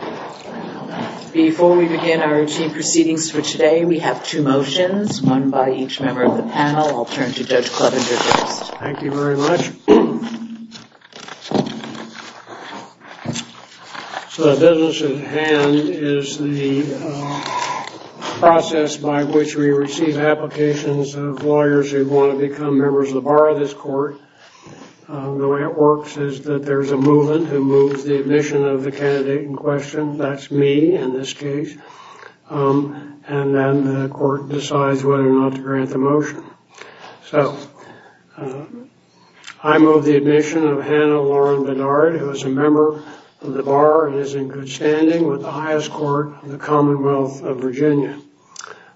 Court. Before we begin our routine proceedings for today, we have two motions, one by each member of the panel. I'll turn to Judge Clevenger first. Thank you very much. So the business at hand is the process by which we receive applications of lawyers who want to become members of the Bar of this Court. The way it works is that there's a movement who moves the admission of the candidate in question, that's me in this case, and then the court decides whether or not to grant the motion. So I move the admission of Hannah Lauren Bernard, who is a member of the Bar and is in good standing with the highest court in the Commonwealth of Virginia.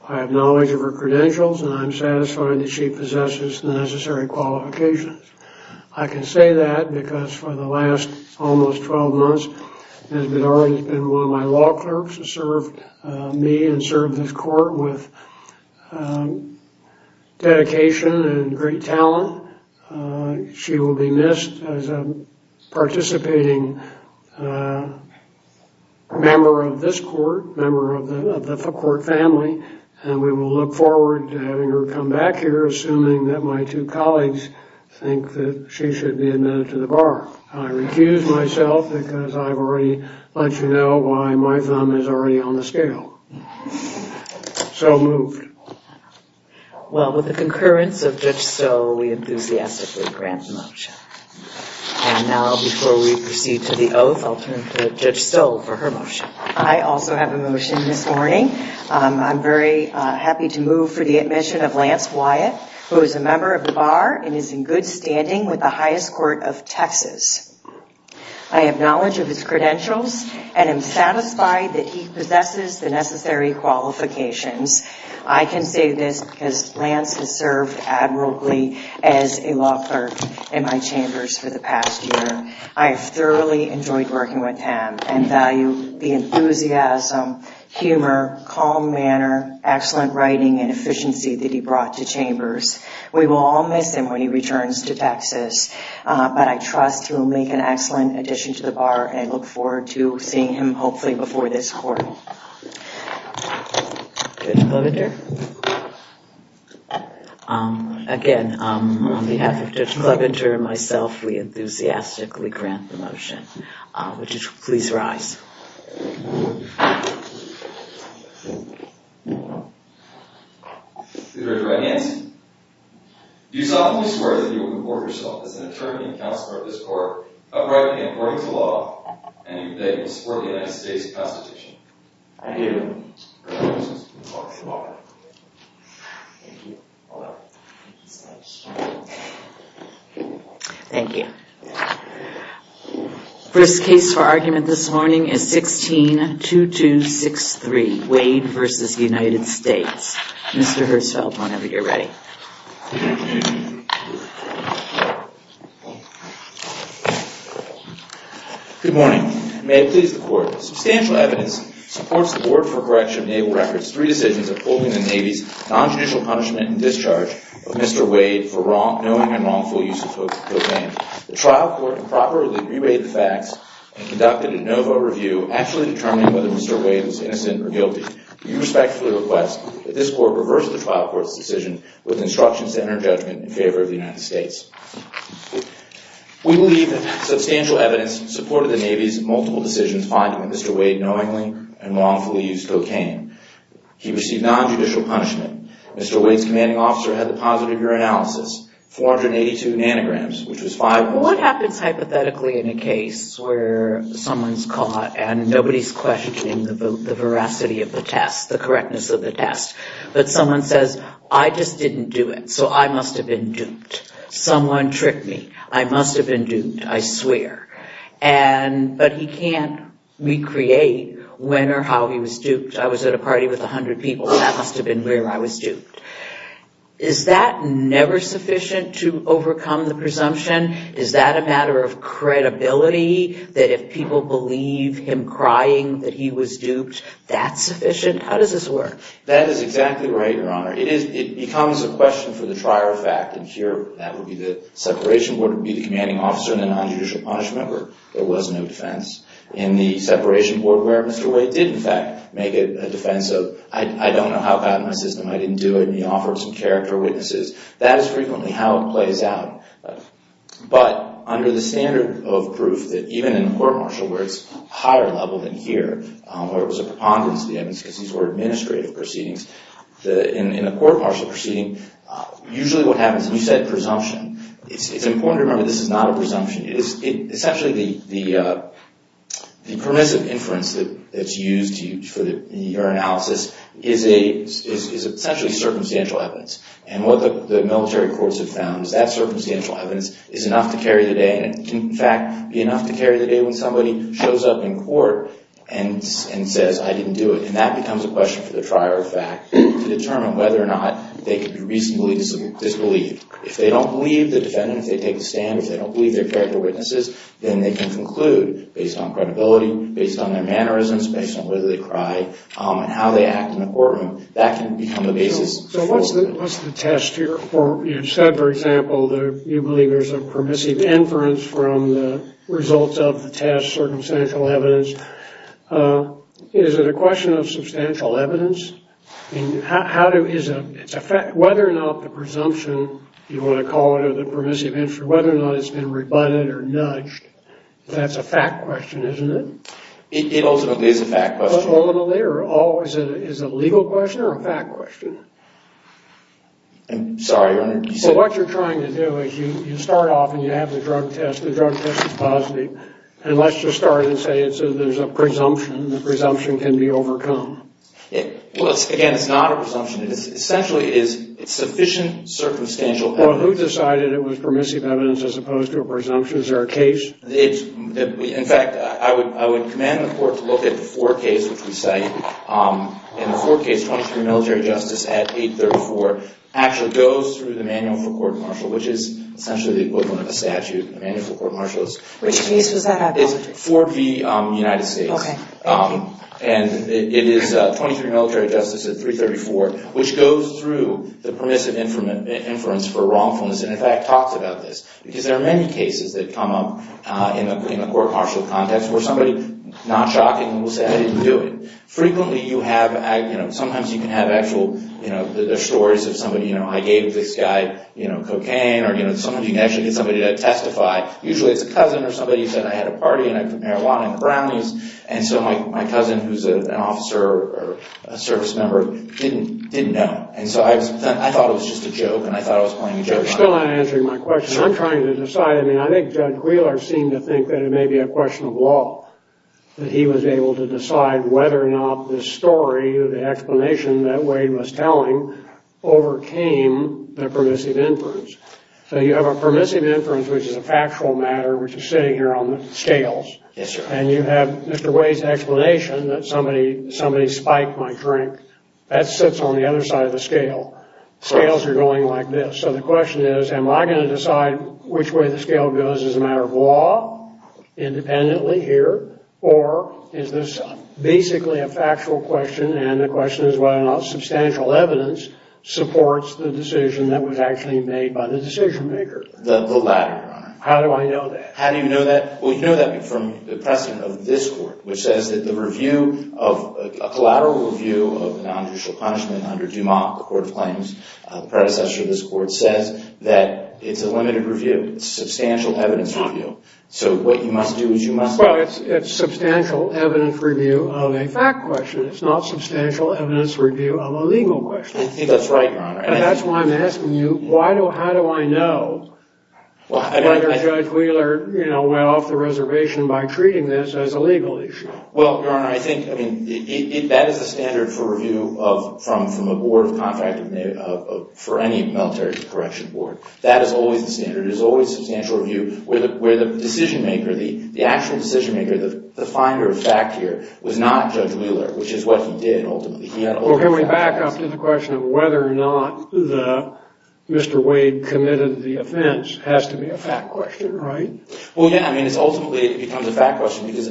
I have knowledge of her credentials and I'm satisfied that she possesses the necessary qualifications. I can say that because for the last almost 12 months, she has been one of my law clerks, served me and served this court with dedication and great talent. She will be missed as a participating member of this court, member of the court family, and we will look forward to her coming back here, assuming that my two colleagues think that she should be admitted to the Bar. I recuse myself because I've already let you know why my thumb is already on the scale. So moved. Well, with the concurrence of Judge Stoll, we enthusiastically grant the motion. And now, before we proceed to the oath, I'll turn to Judge Stoll for her motion. I also have a motion this of Lance Wyatt, who is a member of the Bar and is in good standing with the highest court of Texas. I have knowledge of his credentials and I'm satisfied that he possesses the necessary qualifications. I can say this because Lance has served admirably as a law clerk in my chambers for the past year. I have thoroughly enjoyed working with him and value the enthusiasm, humor, calm manner, excellent writing and efficiency that he brought to chambers. We will all miss him when he returns to Texas, but I trust he will make an excellent addition to the Bar and I look forward to seeing him hopefully before this court. Judge Clevender? Again, on behalf of Judge Clevender and myself, we enthusiastically grant the motion. Would you please rise? Judge Ryan Hanson, do you solemnly swear that you will comport yourself as an attorney and counselor at this court uprightly and according to law, and that you will support the United States Constitution? I do. Thank you. First case for argument this morning is 16-2263, Wade v. United States. Mr. Herzfeld, whenever you're ready. Good morning. May it please the court. Substantial evidence supports the Board for Correction of Naval Records' three decisions of pulling the Navy's non-judicial punishment and discharge of Mr. Wade for knowing and wrongful use of cocaine. The trial court improperly reweighed the facts and conducted a de novo review actually determining whether Mr. Wade was innocent or guilty. We respectfully request that this court reverse the trial court's decision with instructions to enter judgment in favor of the United States. We believe that substantial evidence supported the Navy's multiple decisions finding that Mr. Wade knowingly and wrongfully used cocaine. He received non-judicial punishment. Mr. Wade's commanding officer had the positive urinalysis, 482 nanograms, which was 5. What happens hypothetically in a case where someone's caught and nobody's questioning the veracity of the test, the correctness of the test, but someone says, I just didn't do it, so I must have been duped. Someone tricked me. I must have been duped, I swear. But he can't recreate when or how he was duped. I was at a party with 100 people, that must have been where I was duped. Is that never sufficient to overcome the presumption? Is that a matter of credibility that if people believe him crying that he was duped, that's sufficient? How does this work? That is exactly right, Your Honor. It becomes a question for the trier of fact, and here that would be the separation board would be the commanding officer and the non-judicial punishment where there was no defense. In the system, I didn't do it, and he offered some character witnesses. That is frequently how it plays out. But under the standard of proof that even in court martial where it's higher level than here, where it was a preponderance of the evidence because these were administrative proceedings, in a court martial proceeding, usually what happens, and you said presumption, it's important to remember this is not a presumption. It's actually the permissive inference that's used for your analysis is essentially circumstantial evidence, and what the military courts have found is that circumstantial evidence is enough to carry the day, and it can, in fact, be enough to carry the day when somebody shows up in court and says, I didn't do it, and that becomes a question for the trier of fact to determine whether or not they can be reasonably disbelieved. If they don't believe the defendant, if they take a stand, if they don't believe their character witnesses, then they can conclude based on credibility, based on their mannerisms, based on whether they cry, and how they act in the courtroom. That can become a basis. So what's the test here? You said, for example, that you believe there's a permissive inference from the results of the test, circumstantial evidence. Is it a question of substantial evidence? Whether or not the presumption, if you want to call it a permissive inference, or whether or not it's been rebutted or nudged, that's a fact question, isn't it? It ultimately is a fact question. Ultimately, or is it a legal question or a fact question? I'm sorry, Your Honor. What you're trying to do is you start off and you have the drug test. The drug test is positive, and let's just start and say there's a presumption. The presumption can be overcome. Well, again, it's not a presumption. It essentially is sufficient circumstantial evidence. Well, who decided it was permissive evidence as opposed to a presumption? Is there a case? In fact, I would commend the Court to look at the Ford case, which we cite. In the Ford case, 23 military justice at 834 actually goes through the manual for court martial, which is essentially the equivalent of a statute. The manual for court martial is for the United States. It is 23 military justice at 334, which goes through the permissive inference for wrongfulness. In fact, it talks about this, because there are many cases that come up in a court martial context where somebody, not shocking, will say, I didn't do it. Frequently, sometimes you can have actual stories of somebody, I gave this guy cocaine. Sometimes you can actually get somebody to testify. Usually it's a cousin or somebody who said I had a party and I put marijuana in the brownies. And so my cousin, who's an officer or a service member, didn't know. And so I thought it was just a joke, and I thought I was playing a joke on him. You're still not answering my question. I'm trying to decide. I mean, I think Judge Wheeler seemed to think that it may be a question of law, that he was able to decide whether or not this story, the explanation that Wade was telling, overcame the permissive inference. So you have a permissive inference, which is a factual matter, which is sitting here on the scales. And you have Mr. Wade's explanation that somebody spiked my drink. That sits on the other side of the scale. Scales are going like this. So the question is, am I going to decide which way the scale goes as a matter of law, independently here? Or is this basically a factual question, and the question is whether or not substantial evidence supports the decision that was actually made by the decision-maker? The latter, Your Honor. How do I know that? How do you know that? Well, you know that from the precedent of this Court, which says that the review of a collateral review of a nonjudicial punishment under DuMont, the Court of Claims, the predecessor of this Court, says that it's a limited review. It's a substantial evidence review. So what you must do is you must- Well, it's substantial evidence review of a fact question. It's not substantial evidence review of a legal question. I think that's right, Your Honor. And that's why I'm asking you, how do I know whether Judge Wheeler, you know, went off the reservation by treating this as a legal issue? Well, Your Honor, I think, I mean, that is the standard for review from a board of contract, for any military correction board. That is always the standard. It is always substantial review where the decision-maker, the actual decision-maker, the finder of fact here, was not Judge Wheeler, which is what he did, ultimately. Well, can we back up to the question of whether or not Mr. Wade committed the offense? It has to be a fact question, right? Well, yeah. I mean, it ultimately becomes a fact question because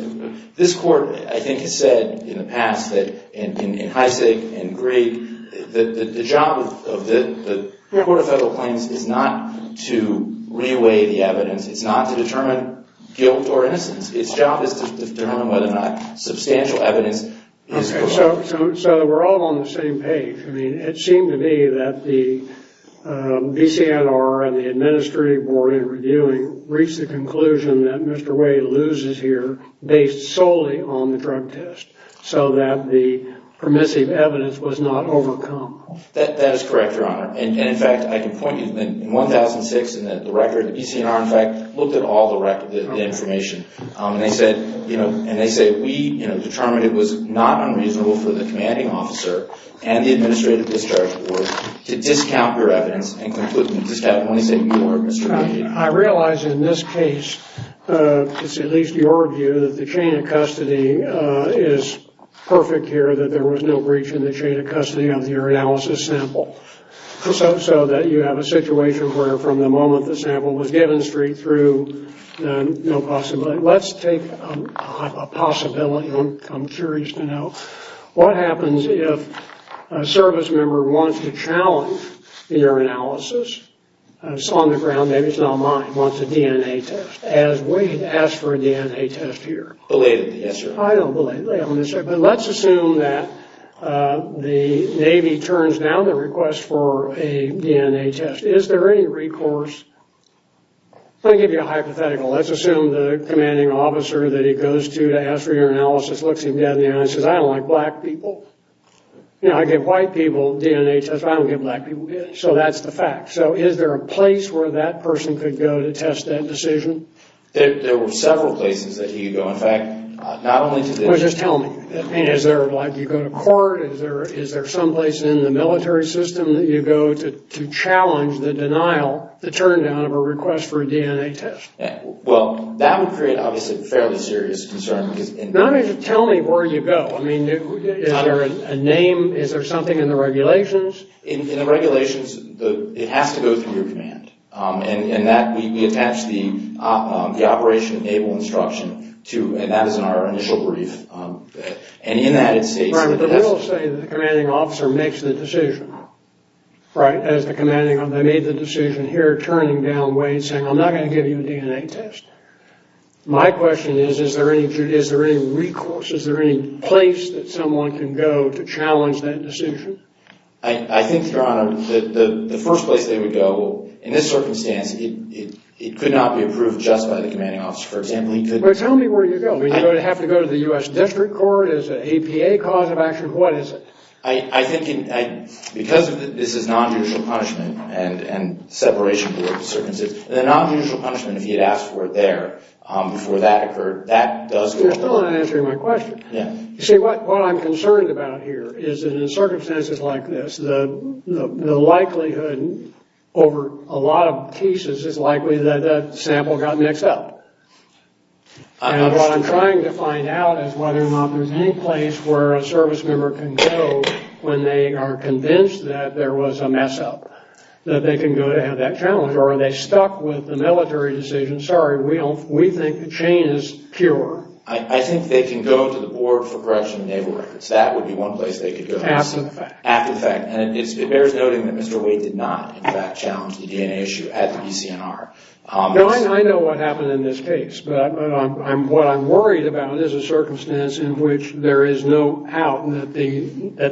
this Court, I think, has said in the past that in Heisig and Greig that the job of the Court of Federal Claims is not to re-weigh the evidence. It's not to determine guilt or innocence. Its job is to determine whether or not substantial evidence is- So we're all on the same page. I mean, it seemed to me that the BCNR and the Administrative Board in reviewing reached the conclusion that Mr. Wade loses here based solely on the drug test so that the permissive evidence was not overcome. That is correct, Your Honor. And, in fact, I can point you, in 1006, the record, the BCNR, in fact, looked at all the information. And they said we determined it was not unreasonable for the commanding officer and the Administrative Discharge Board to discount your evidence and completely discount only say you or Mr. Wade. I realize in this case, it's at least your view, that the chain of custody is perfect here, that there was no breach in the chain of custody of your analysis sample. So that you have a situation where from the moment the sample was given straight through, no possibility. Let's take a possibility. I'm curious to know. What happens if a service member wants to challenge your analysis? It's on the ground. Maybe it's not mine. Wants a DNA test. Has Wade asked for a DNA test here? Belatedly, yes, sir. I don't belate. But let's assume that the Navy turns down the request for a DNA test. Is there any recourse? Let me give you a hypothetical. Let's assume the commanding officer that he goes to to ask for your analysis looks him dead in the eye and says, I don't like black people. You know, I give white people DNA tests, but I don't give black people. So that's the fact. So is there a place where that person could go to test that decision? There were several places that he could go. In fact, not only today. Well, just tell me. I mean, is there like you go to court? Is there someplace in the military system that you go to challenge the denial, the turn down of a request for a DNA test? Well, that would create, obviously, a fairly serious concern. Tell me where you go. I mean, is there a name? Is there something in the regulations? In the regulations, it has to go through your command. And that we attach the operation enable instruction to, and that is in our initial brief. And in that it states. The rules say the commanding officer makes the decision, right? As the commanding officer, they made the decision here, turning down Wade saying, I'm not going to give you a DNA test. My question is, is there any recourse? Is there any place that someone can go to challenge that decision? I think, Your Honor, the first place they would go in this circumstance, it could not be approved just by the commanding officer. For example, he could. Well, tell me where you go. Do you have to go to the U.S. District Court? Is it APA cause of action? What is it? I think because this is nonjudicial punishment and separation group circumstances, the nonjudicial punishment, if he had asked for it there before that occurred, that does go to court. You're still not answering my question. Yeah. You see, what I'm concerned about here is that in circumstances like this, the likelihood over a lot of cases is likely that that sample got mixed up. I understand. And what I'm trying to find out is whether or not there's any place where a service member can go when they are convinced that there was a mess-up, that they can go to have that challenged. Or are they stuck with the military decision? Sorry, we think the chain is pure. I think they can go to the board for correction of naval records. That would be one place they could go. After the fact. After the fact. And it bears noting that Mr. Wade did not, in fact, challenge the DNA issue at the BCNR. No, I know what happened in this case. But what I'm worried about is a circumstance in which there is no doubt that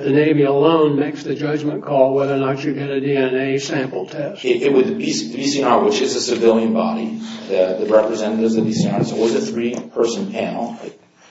the Navy alone makes the judgment call whether or not you get a DNA sample test. With the BCNR, which is a civilian body, the representatives of the BCNR, so it was a three-person panel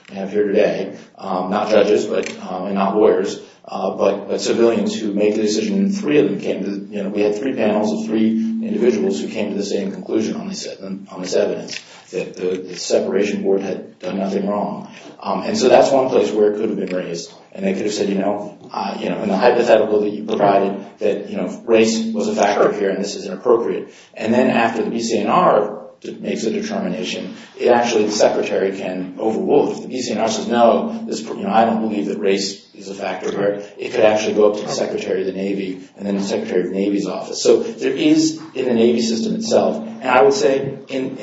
we have here today, not judges and not lawyers, but civilians who made the decision, and three of them came to the, you know, we had three panels of three individuals who came to the same conclusion on this evidence, that the separation board had done nothing wrong. And so that's one place where it could have been raised. And they could have said, you know, in the hypothetical that you provided, that race was a factor here and this is inappropriate. And then after the BCNR makes a determination, it actually, the Secretary can overrule it. If the BCNR says, no, I don't believe that race is a factor here, it could actually go up to the Secretary of the Navy and then the Secretary of the Navy's office. So there is, in the Navy system itself, and I would say when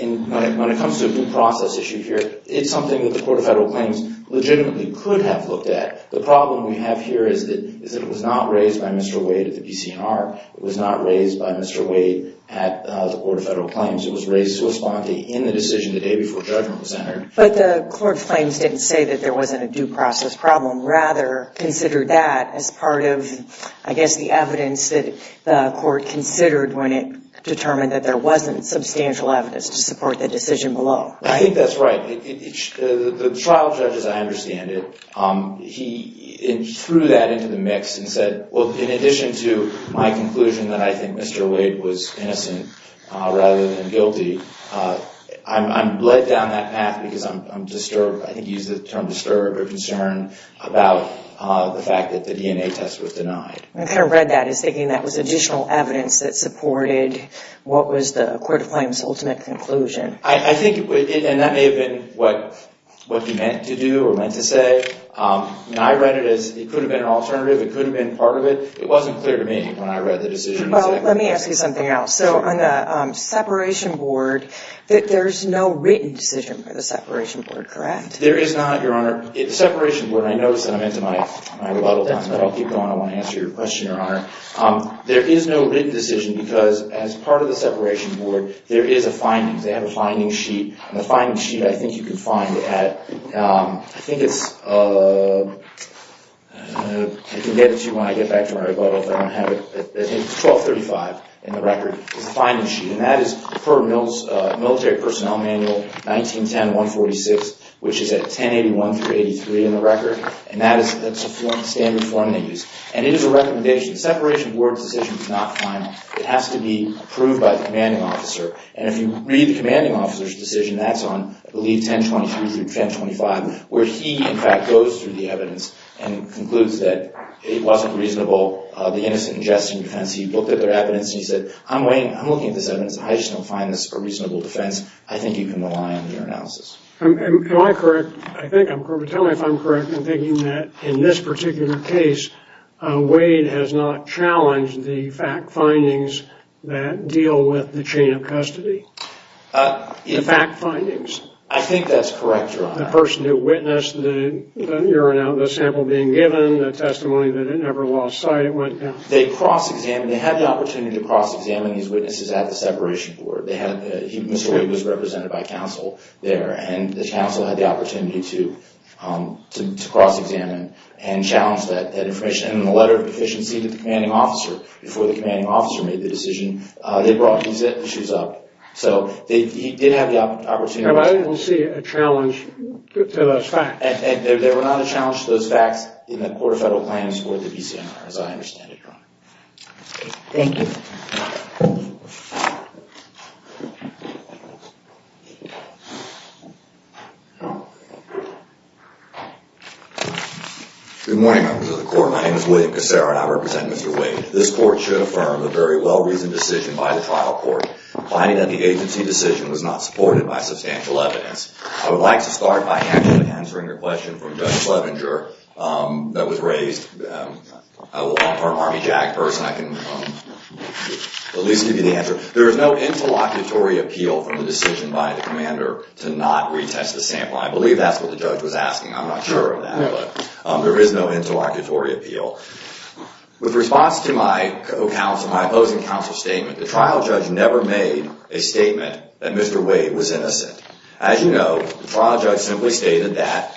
it comes to a due process issue here, it's something that the Court of Federal Claims legitimately could have looked at. The problem we have here is that it was not raised by Mr. Wade at the BCNR. It was not raised by Mr. Wade at the Court of Federal Claims. It was raised in the decision the day before judgment was entered. But the Court of Claims didn't say that there wasn't a due process problem. Rather, considered that as part of, I guess, the evidence that the court considered when it determined that there wasn't substantial evidence to support the decision below. I think that's right. The trial judge, as I understand it, he threw that into the mix and said, well, in addition to my conclusion that I think Mr. Wade was innocent rather than guilty, I'm bled down that path because I'm disturbed. I think he used the term disturbed or concerned about the fact that the DNA test was denied. I kind of read that as thinking that was additional evidence that supported what was the Court of Claims' ultimate conclusion. I think, and that may have been what he meant to do or meant to say. I read it as it could have been an alternative. It could have been part of it. It wasn't clear to me when I read the decision. Well, let me ask you something else. So on the separation board, there's no written decision for the separation board, correct? There is not, Your Honor. The separation board, and I notice that I'm into my rebuttal time, but I'll keep going. I want to answer your question, Your Honor. There is no written decision because as part of the separation board, there is a finding. They have a finding sheet, and the finding sheet I think you can find at, I think it's, I can get it to you when I get back to my rebuttal. It's 1235 in the record. It's a finding sheet, and that is per Military Personnel Manual 1910-146, which is at 1081-83 in the record, and that is a standard form they use. And it is a recommendation. The separation board's decision is not final. It has to be approved by the commanding officer. And if you read the commanding officer's decision, that's on, I believe, 1023-1025, where he, in fact, goes through the evidence and concludes that it wasn't reasonable, the innocent ingesting defense. He looked at their evidence and he said, I'm looking at this evidence. I just don't find this a reasonable defense. I think you can rely on your analysis. Am I correct? I think I'm correct. Tell me if I'm correct in thinking that in this particular case, Wade has not challenged the fact findings that deal with the chain of custody, the fact findings. I think that's correct, Your Honor. The person who witnessed the urine sample being given, the testimony that it never lost sight. They cross-examined. They had the opportunity to cross-examine these witnesses at the separation board. Mr. Wade was represented by counsel there, and the counsel had the opportunity to cross-examine and challenge that information. And in the letter of deficiency to the commanding officer, before the commanding officer made the decision, they brought these issues up. So he did have the opportunity. I didn't see a challenge to those facts. There were not a challenge to those facts in the court of federal claims or the BCNR, as I understand it, Your Honor. Thank you. Good morning, members of the court. My name is William Casara, and I represent Mr. Wade. This court should affirm the very well-reasoned decision by the trial court, finding that the agency decision was not supported by substantial evidence. I would like to start by answering a question from Judge Slevinger that was raised. I'm a long-term Army JAG person. I can at least give you the answer. There is no interlocutory appeal from the decision by the commander to not retest the sample. I believe that's what the judge was asking. I'm not sure of that, but there is no interlocutory appeal. With response to my opposing counsel's statement, the trial judge never made a statement that Mr. Wade was innocent. As you know, the trial judge simply stated that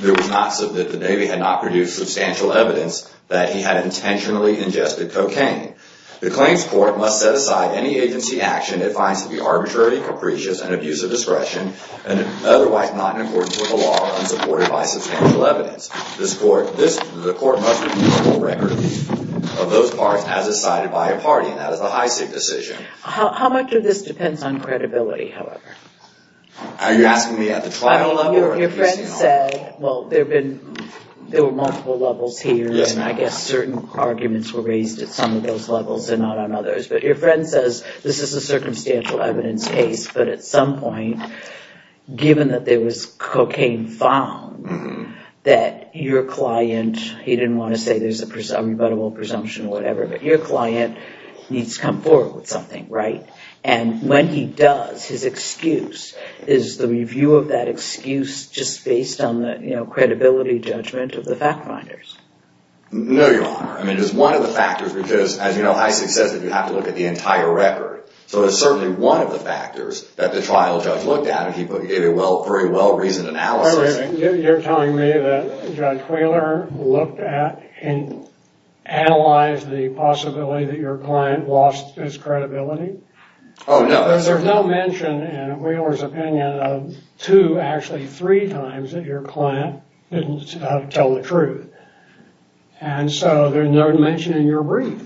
the Navy had not produced substantial evidence that he had intentionally ingested cocaine. The claims court must set aside any agency action it finds to be arbitrary, capricious, and abuse of discretion, and otherwise not in accordance with the law or unsupported by substantial evidence. The court must review the full record of those parts as decided by a party, and that is the Heisig decision. How much of this depends on credibility, however? Are you asking me at the trial level? Your friend said, well, there were multiple levels here, and I guess certain arguments were raised at some of those levels and not on others. But your friend says this is a circumstantial evidence case, but at some point, given that there was cocaine found, that your client, he didn't want to say there's a rebuttable presumption or whatever, but your client needs to come forward with something, right? And when he does, his excuse, is the review of that excuse just based on the, you know, credibility judgment of the fact finders? No, Your Honor. I mean, it was one of the factors because, as you know, Heisig says that you have to look at the entire record. So it was certainly one of the factors that the trial judge looked at, and he gave a very well-reasoned analysis. You're telling me that Judge Wheeler looked at and analyzed the possibility that your client lost his credibility? Oh, no. There's no mention in Wheeler's opinion of two, actually three times, that your client didn't tell the truth. And so there's no mention in your brief.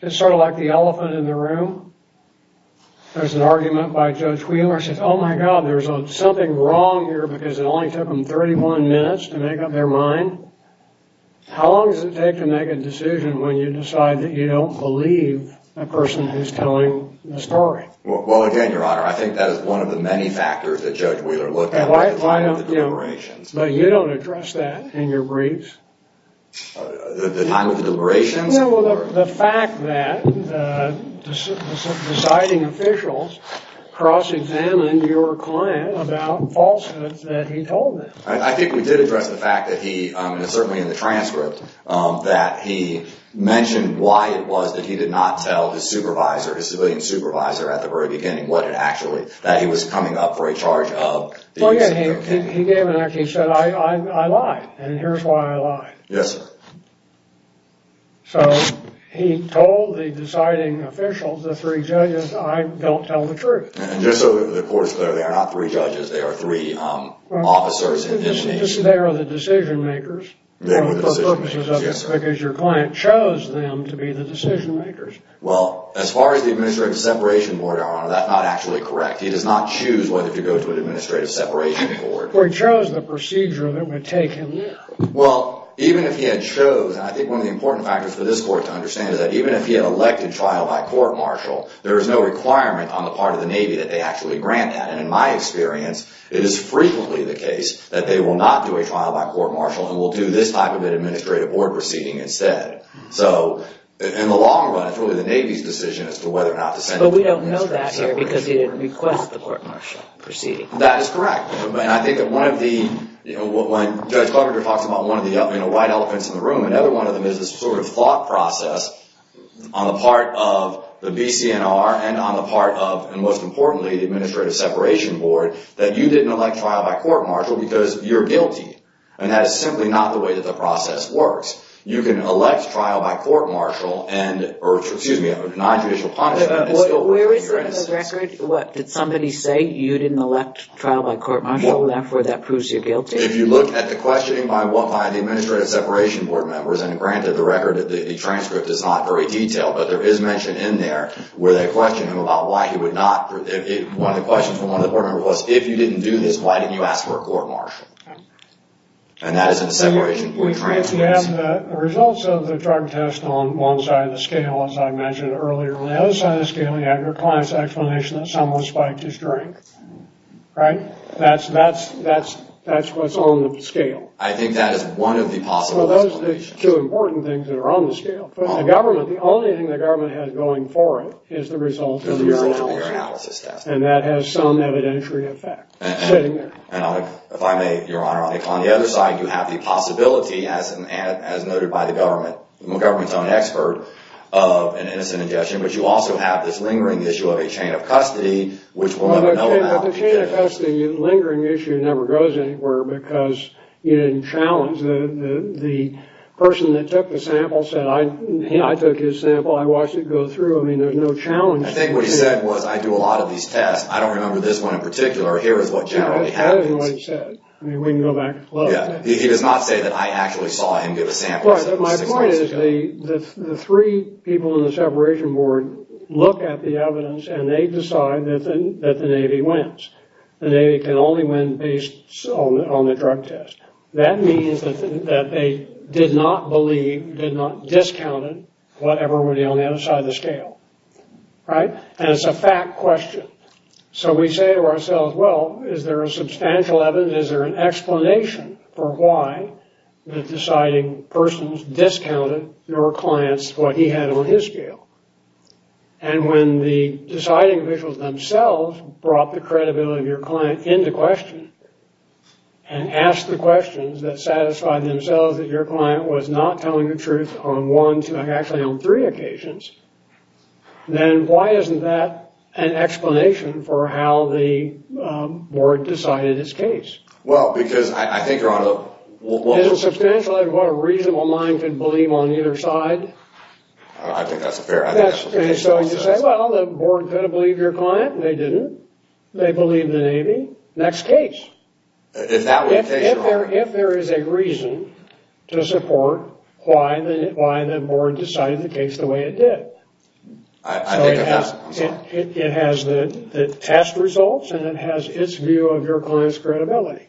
It's sort of like the elephant in the room. There's an argument by Judge Wheeler. He says, oh, my God, there's something wrong here because it only took him 31 minutes to make up their mind. How long does it take to make a decision when you decide that you don't believe a person who's telling the story? Well, again, Your Honor, I think that is one of the many factors that Judge Wheeler looked at by the time of the deliberations. But you don't address that in your briefs. The time of the deliberations? No, well, the fact that the deciding officials cross-examined your client about falsehoods that he told them. I think we did address the fact that he, certainly in the transcript, that he mentioned why it was that he did not tell his supervisor, his civilian supervisor, at the very beginning what it actually was that he was coming up for a charge of. Oh, yeah. He said, I lied, and here's why I lied. Yes, sir. So he told the deciding officials, the three judges, I don't tell the truth. And just so the court is clear, they are not three judges. They are three officers. They are the decision makers. They were the decision makers, yes, sir. Because your client chose them to be the decision makers. Well, as far as the administrative separation board, Your Honor, that's not actually correct. He does not choose whether to go to an administrative separation board. Well, he chose the procedure that would take him there. Well, even if he had chose, and I think one of the important factors for this court to understand is that even if he had elected trial by court-martial, there is no requirement on the part of the Navy that they actually grant that. And in my experience, it is frequently the case that they will not do a trial by court-martial and will do this type of an administrative board proceeding instead. So in the long run, it's really the Navy's decision as to whether or not to send him to an administrative separation board. But we don't know that here because he didn't request the court-martial proceeding. That is correct. And I think that one of the... When Judge Carpenter talks about one of the white elephants in the room, another one of them is this sort of thought process on the part of the BCNR and on the part of, and most importantly, the administrative separation board, that you didn't elect trial by court-martial because you're guilty. And that is simply not the way that the process works. You can elect trial by court-martial and... Where is it on the record? Did somebody say you didn't elect trial by court-martial and therefore that proves you're guilty? If you look at the questioning by the administrative separation board members, and granted, the transcript is not very detailed, but there is mention in there where they question him about why he would not... One of the questions from one of the board members was, if you didn't do this, why didn't you ask for a court-martial? And that is in the separation board transcripts. We have the results of the drug test on one side of the scale, as I mentioned earlier. On the other side of the scale, you have your client's explanation that someone spiked his drink, right? That's what's on the scale. I think that is one of the possible explanations. Well, those are the two important things that are on the scale. But the government, the only thing the government has going for it is the results of the urinalysis test. And that has some evidentiary effect sitting there. If I may, Your Honor, on the other side, you have the possibility, as noted by the government, the government's own expert, of an innocent ingestion, but you also have this lingering issue of a chain of custody, which we'll never know about. But the chain of custody, the lingering issue, never goes anywhere because you didn't challenge. The person that took the sample said, I took his sample, I watched it go through. I mean, there's no challenge. I think what he said was, I do a lot of these tests. I don't remember this one in particular. Here is what generally happens. That isn't what he said. He does not say that I actually saw him give a sample. My point is the three people in the separation board look at the evidence and they decide that the Navy wins. The Navy can only win based on the drug test. That means that they did not believe, did not discount it, whatever would be on the other side of the scale. Right? And it's a fact question. So we say to ourselves, well, is there a substantial evidence, is there an explanation for why the deciding persons discounted your clients what he had on his scale? And when the deciding officials themselves brought the credibility of your client into question and asked the questions that satisfied themselves that your client was not telling the truth on one, two, actually on three occasions, then why isn't that an explanation for how the board decided his case? Well, because I think you're on a... Isn't substantial evidence what a reasonable mind could believe on either side? I think that's a fair explanation. So you say, well, the board could have believed your client. They didn't. They believed the Navy. Next case. If there is a reason to support why the board decided the case the way it did, it has the test results and it has its view of your client's credibility.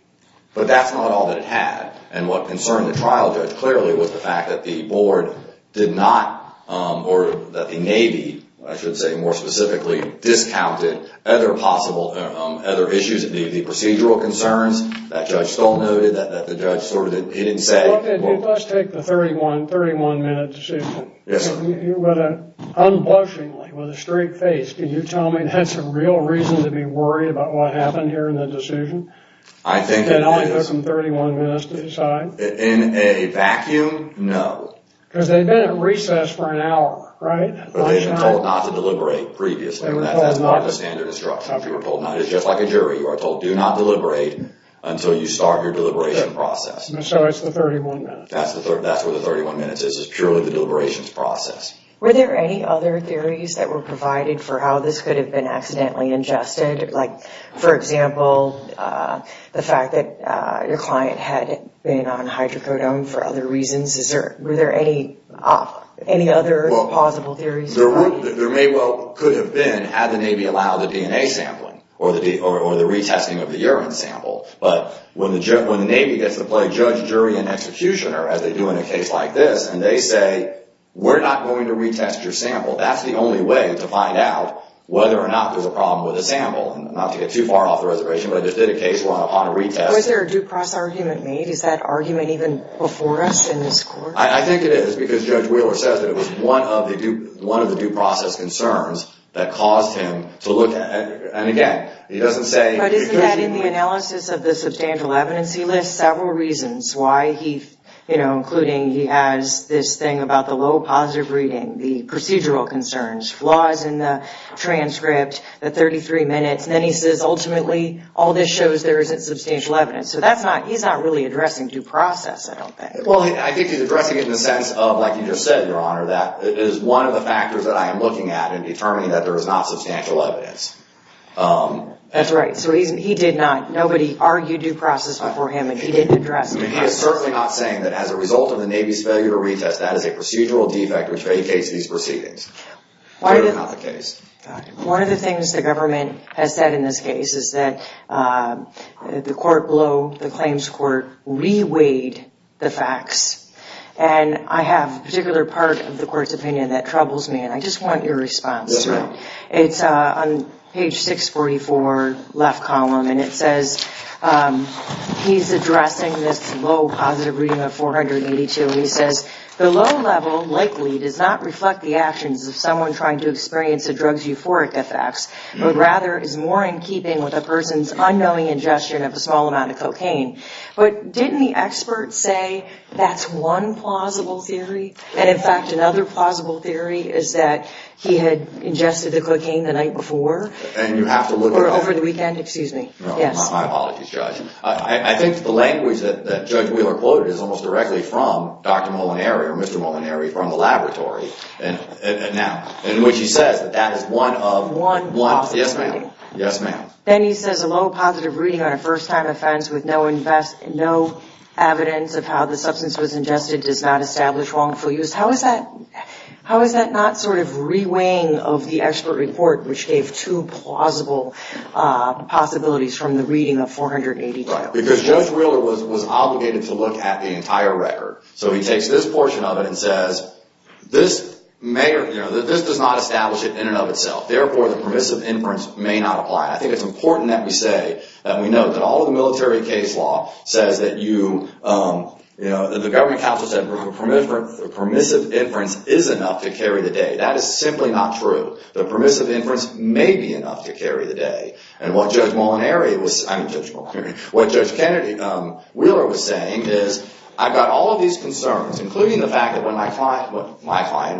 But that's not all that it had. And what concerned the trial judge clearly was the fact that the board did not, or that the Navy, I should say more specifically, discounted other possible issues, the procedural concerns. That judge still noted that the judge sort of didn't say... Let's take the 31-minute decision. Yes, sir. Unblushingly, with a straight face, can you tell me that's a real reason to be worried about what happened here in the decision? I think it is. That only took them 31 minutes to decide? In a vacuum, no. Because they've been at recess for an hour, right? But they've been told not to deliberate previously. That's not the standard instruction. It's just like a jury. You are told do not deliberate until you start your deliberation process. So it's the 31 minutes. That's where the 31 minutes is. It's purely the deliberations process. Were there any other theories that were provided for how this could have been accidentally ingested? Like, for example, the fact that your client had been on hydrocodone for other reasons? Were there any other possible theories? There may well could have been had the Navy allowed the DNA sampling or the retesting of the urine sample. But when the Navy gets to play judge, jury, and executioner, as they do in a case like this, and they say, we're not going to retest your sample, that's the only way to find out whether or not there's a problem with the sample. Not to get too far off the reservation, but I just did a case upon a retest. Was there a due process argument made? Is that argument even before us in this court? I think it is. Because Judge Wheeler says that it was one of the due process concerns that caused him to look at it. But isn't that in the analysis of the substantial evidence, he lists several reasons why he, you know, including he has this thing about the low positive reading, the procedural concerns, flaws in the transcript, the 33 minutes. And then he says, ultimately, all this shows there isn't substantial evidence. So he's not really addressing due process, I don't think. Well, I think he's addressing it in the sense of, like you just said, Your Honor, that is one of the factors that I am looking at in determining that there is not substantial evidence. That's right. So he did not, nobody argued due process before him, and he didn't address it. He is certainly not saying that as a result of the Navy's failure to retest, that is a procedural defect which vacates these proceedings. That is not the case. One of the things the government has said in this case is that the court below, the claims court, reweighed the facts. And I have a particular part of the court's opinion that troubles me, and I just want your response to it. That's right. It's on page 644, left column, and it says, he's addressing this low positive reading of 482. He says, The low level likely does not reflect the actions of someone trying to experience a drug's euphoric effects, but rather is more in keeping with a person's unknowing ingestion of a small amount of cocaine. But didn't the expert say that's one plausible theory? And in fact, another plausible theory is that he had ingested the cocaine the night before. And you have to look it up. Or over the weekend. Excuse me. My apologies, Judge. I think the language that Judge Wheeler quoted is almost directly from Dr. Molinari or Mr. Molinari from the laboratory. Now, in which he says that that is one of. One. Yes, ma'am. Yes, ma'am. Then he says, A low positive reading on a first time offense with no evidence of how the substance was ingested does not establish wrongful use. How is that not sort of reweighing of the expert report, which gave two plausible possibilities from the reading of 482? Because Judge Wheeler was obligated to look at the entire record. So he takes this portion of it and says, This does not establish it in and of itself. Therefore, the permissive inference may not apply. I think it's important that we say that we know that all of the military case law says that the government counsel said the permissive inference is enough to carry the day. That is simply not true. The permissive inference may be enough to carry the day. And what Judge Molinari was. I mean Judge Molinari. What Judge Kennedy Wheeler was saying is, I've got all of these concerns, including the fact that when my client,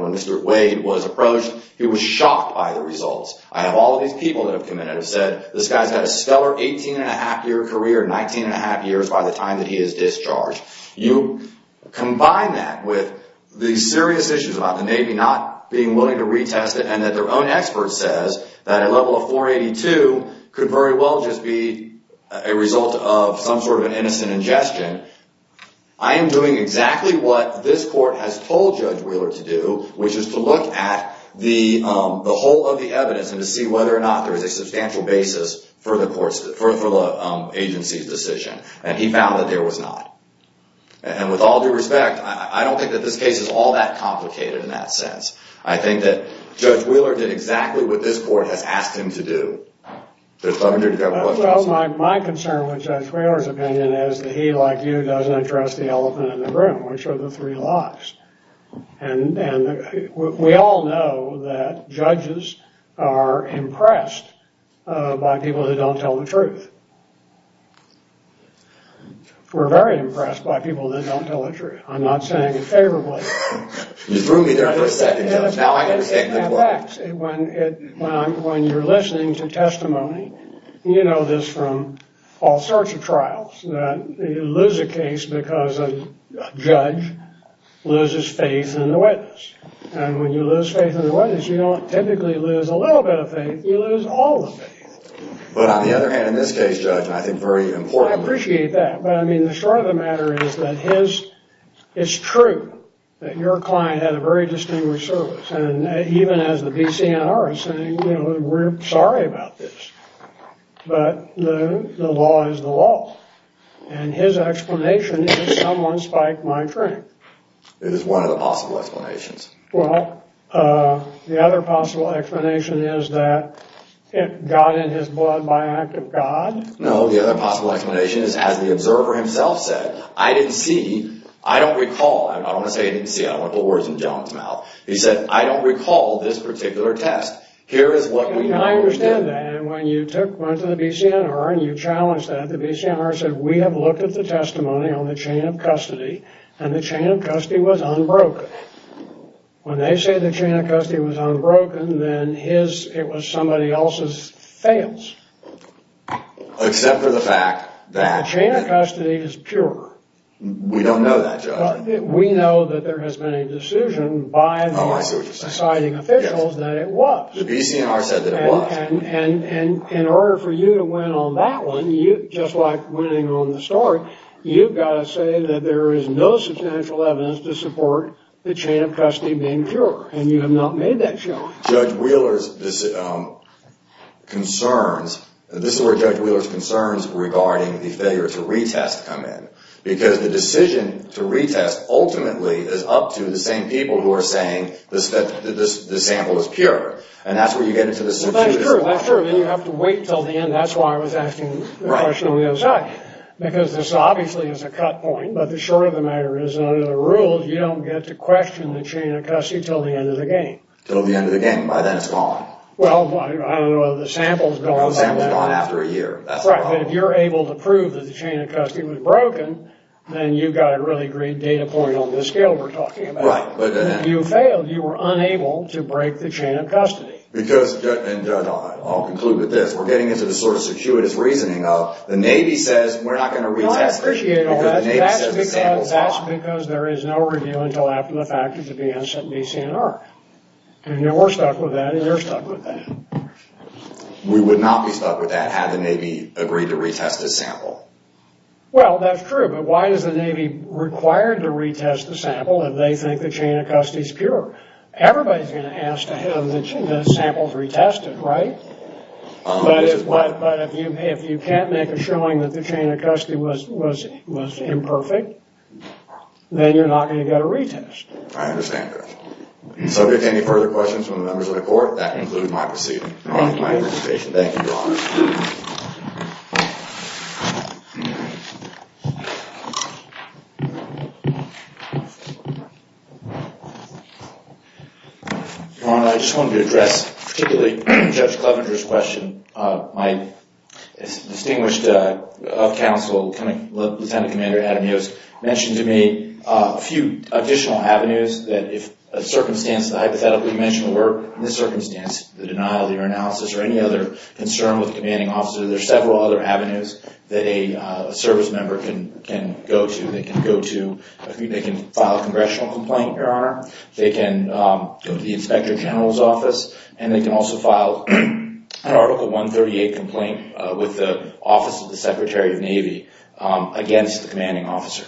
when Mr. Wade was approached, he was shocked by the results. I have all of these people that have come in and have said, This guy's got a stellar 18-and-a-half-year career, 19-and-a-half years by the time that he is discharged. You combine that with the serious issues about the Navy not being willing to retest it and that their own expert says that a level of 482 could very well just be a result of some sort of an innocent ingestion. I am doing exactly what this court has told Judge Wheeler to do, which is to look at the whole of the evidence and to see whether or not there is a substantial basis for the agency's decision. And he found that there was not. And with all due respect, I don't think that this case is all that complicated in that sense. I think that Judge Wheeler did exactly what this court has asked him to do. Judge Bovender, do you have a question? Well, my concern with Judge Wheeler's opinion is that he, like you, doesn't trust the elephant in the room, which are the three lies. And we all know that judges are impressed by people who don't tell the truth. We're very impressed by people that don't tell the truth. I'm not saying it favorably. When you're listening to testimony, you know this from all sorts of trials, that you lose a case because a judge loses faith in the witness. And when you lose faith in the witness, you don't typically lose a little bit of faith. You lose all the faith. But on the other hand, in this case, Judge, I think very importantly... I appreciate that. But, I mean, the short of the matter is that his... It's true that your client had a very distinguished service. And even as the BCNR is saying, you know, we're sorry about this. But the law is the law. And his explanation is, someone spiked my drink. It is one of the possible explanations. Well, the other possible explanation is that it got in his blood by an act of God. No, the other possible explanation is, as the observer himself said, I didn't see, I don't recall. I don't want to say I didn't see, I don't want to put words in John's mouth. He said, I don't recall this particular test. Here is what we know. I understand that. And when you went to the BCNR and you challenged that, the BCNR said, we have looked at the testimony on the chain of custody, and the chain of custody was unbroken. When they say the chain of custody was unbroken, then it was somebody else's fails. Except for the fact that... The chain of custody is pure. We don't know that, Judge. We know that there has been a decision by the deciding officials that it was. The BCNR said that it was. And in order for you to win on that one, just like winning on the story, you've got to say that there is no substantial evidence to support the chain of custody being pure. And you have not made that show. Judge Wheeler's concerns, this is where Judge Wheeler's concerns regarding the failure to retest come in. Because the decision to retest ultimately is up to the same people who are saying this sample is pure. And that's where you get into the... That's true, that's true. Then you have to wait until the end. That's why I was asking the question on the other side. Because this obviously is a cut point. But the short of the matter is, under the rules, you don't get to question the chain of custody until the end of the game. Until the end of the game. By then, it's gone. Well, I don't know whether the sample's gone by then. The sample's gone after a year. That's the problem. Right. But if you're able to prove that the chain of custody was broken, then you've got a really great data point on the scale we're talking about. Right. But if you failed, you were unable to break the chain of custody. Because, and I'll conclude with this, we're getting into the sort of circuitous reasoning of the Navy says we're not going to retest it. No, I appreciate all that. Because the Navy says the sample's gone. That's because there is no review until after the fact. It's a BNCNR. And we're stuck with that, and you're stuck with that. We would not be stuck with that had the Navy agreed to retest the sample. Well, that's true. But why is the Navy required to retest the sample if they think the chain of custody is pure? Everybody's going to ask to have the samples retested, right? But if you can't make a showing that the chain of custody was imperfect, then you're not going to get a retest. I understand that. Subject to any further questions from the members of the court, Thank you. Thank you, Your Honor. Your Honor, I just wanted to address particularly Judge Clevenger's question. My distinguished counsel, Lieutenant Commander Adam Yost, mentioned to me a few additional avenues that if a circumstance, the hypothetical you mentioned were in this circumstance, the denial of the urinalysis or any other concern with the commanding officer, there are several other avenues that a service member can go to. They can file a congressional complaint, Your Honor. They can go to the Inspector General's office, and they can also file an Article 138 complaint with the Office of the Secretary of Navy against the commanding officer.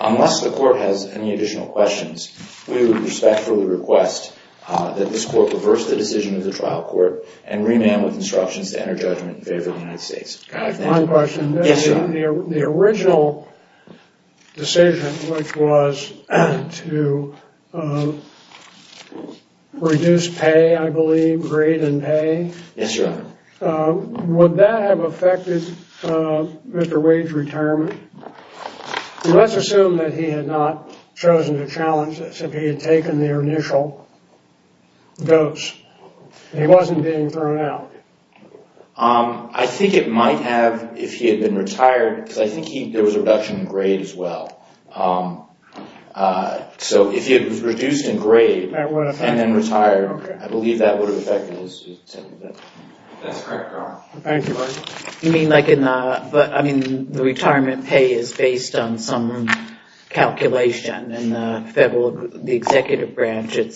Unless the court has any additional questions, we would respectfully request that this court reverse the decision of the trial court and remand with instructions to enter judgment in favor of the United States. I have one question. Yes, Your Honor. The original decision, which was to reduce pay, I believe, grade and pay. Yes, Your Honor. Would that have affected Mr. Wade's retirement? Let's assume that he had not chosen to challenge this if he had taken the initial dose. He wasn't being thrown out. I think it might have if he had been retired, because I think there was a reduction in grade as well. So if he was reduced in grade and then retired, I believe that would have affected his settlement. That's correct, Your Honor. Thank you. You mean like in the, I mean, the retirement pay is based on some calculation and the executive branch, it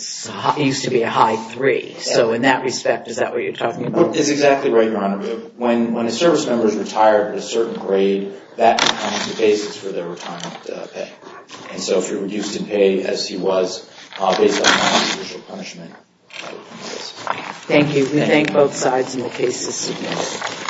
used to be a high three. So in that respect, is that what you're talking about? It's exactly right, Your Honor. When a service member is retired at a certain grade, that becomes the basis for their retirement pay. And so if you're reduced in pay, as he was, based on non-judicial punishment. Thank you. We thank both sides in the case this evening.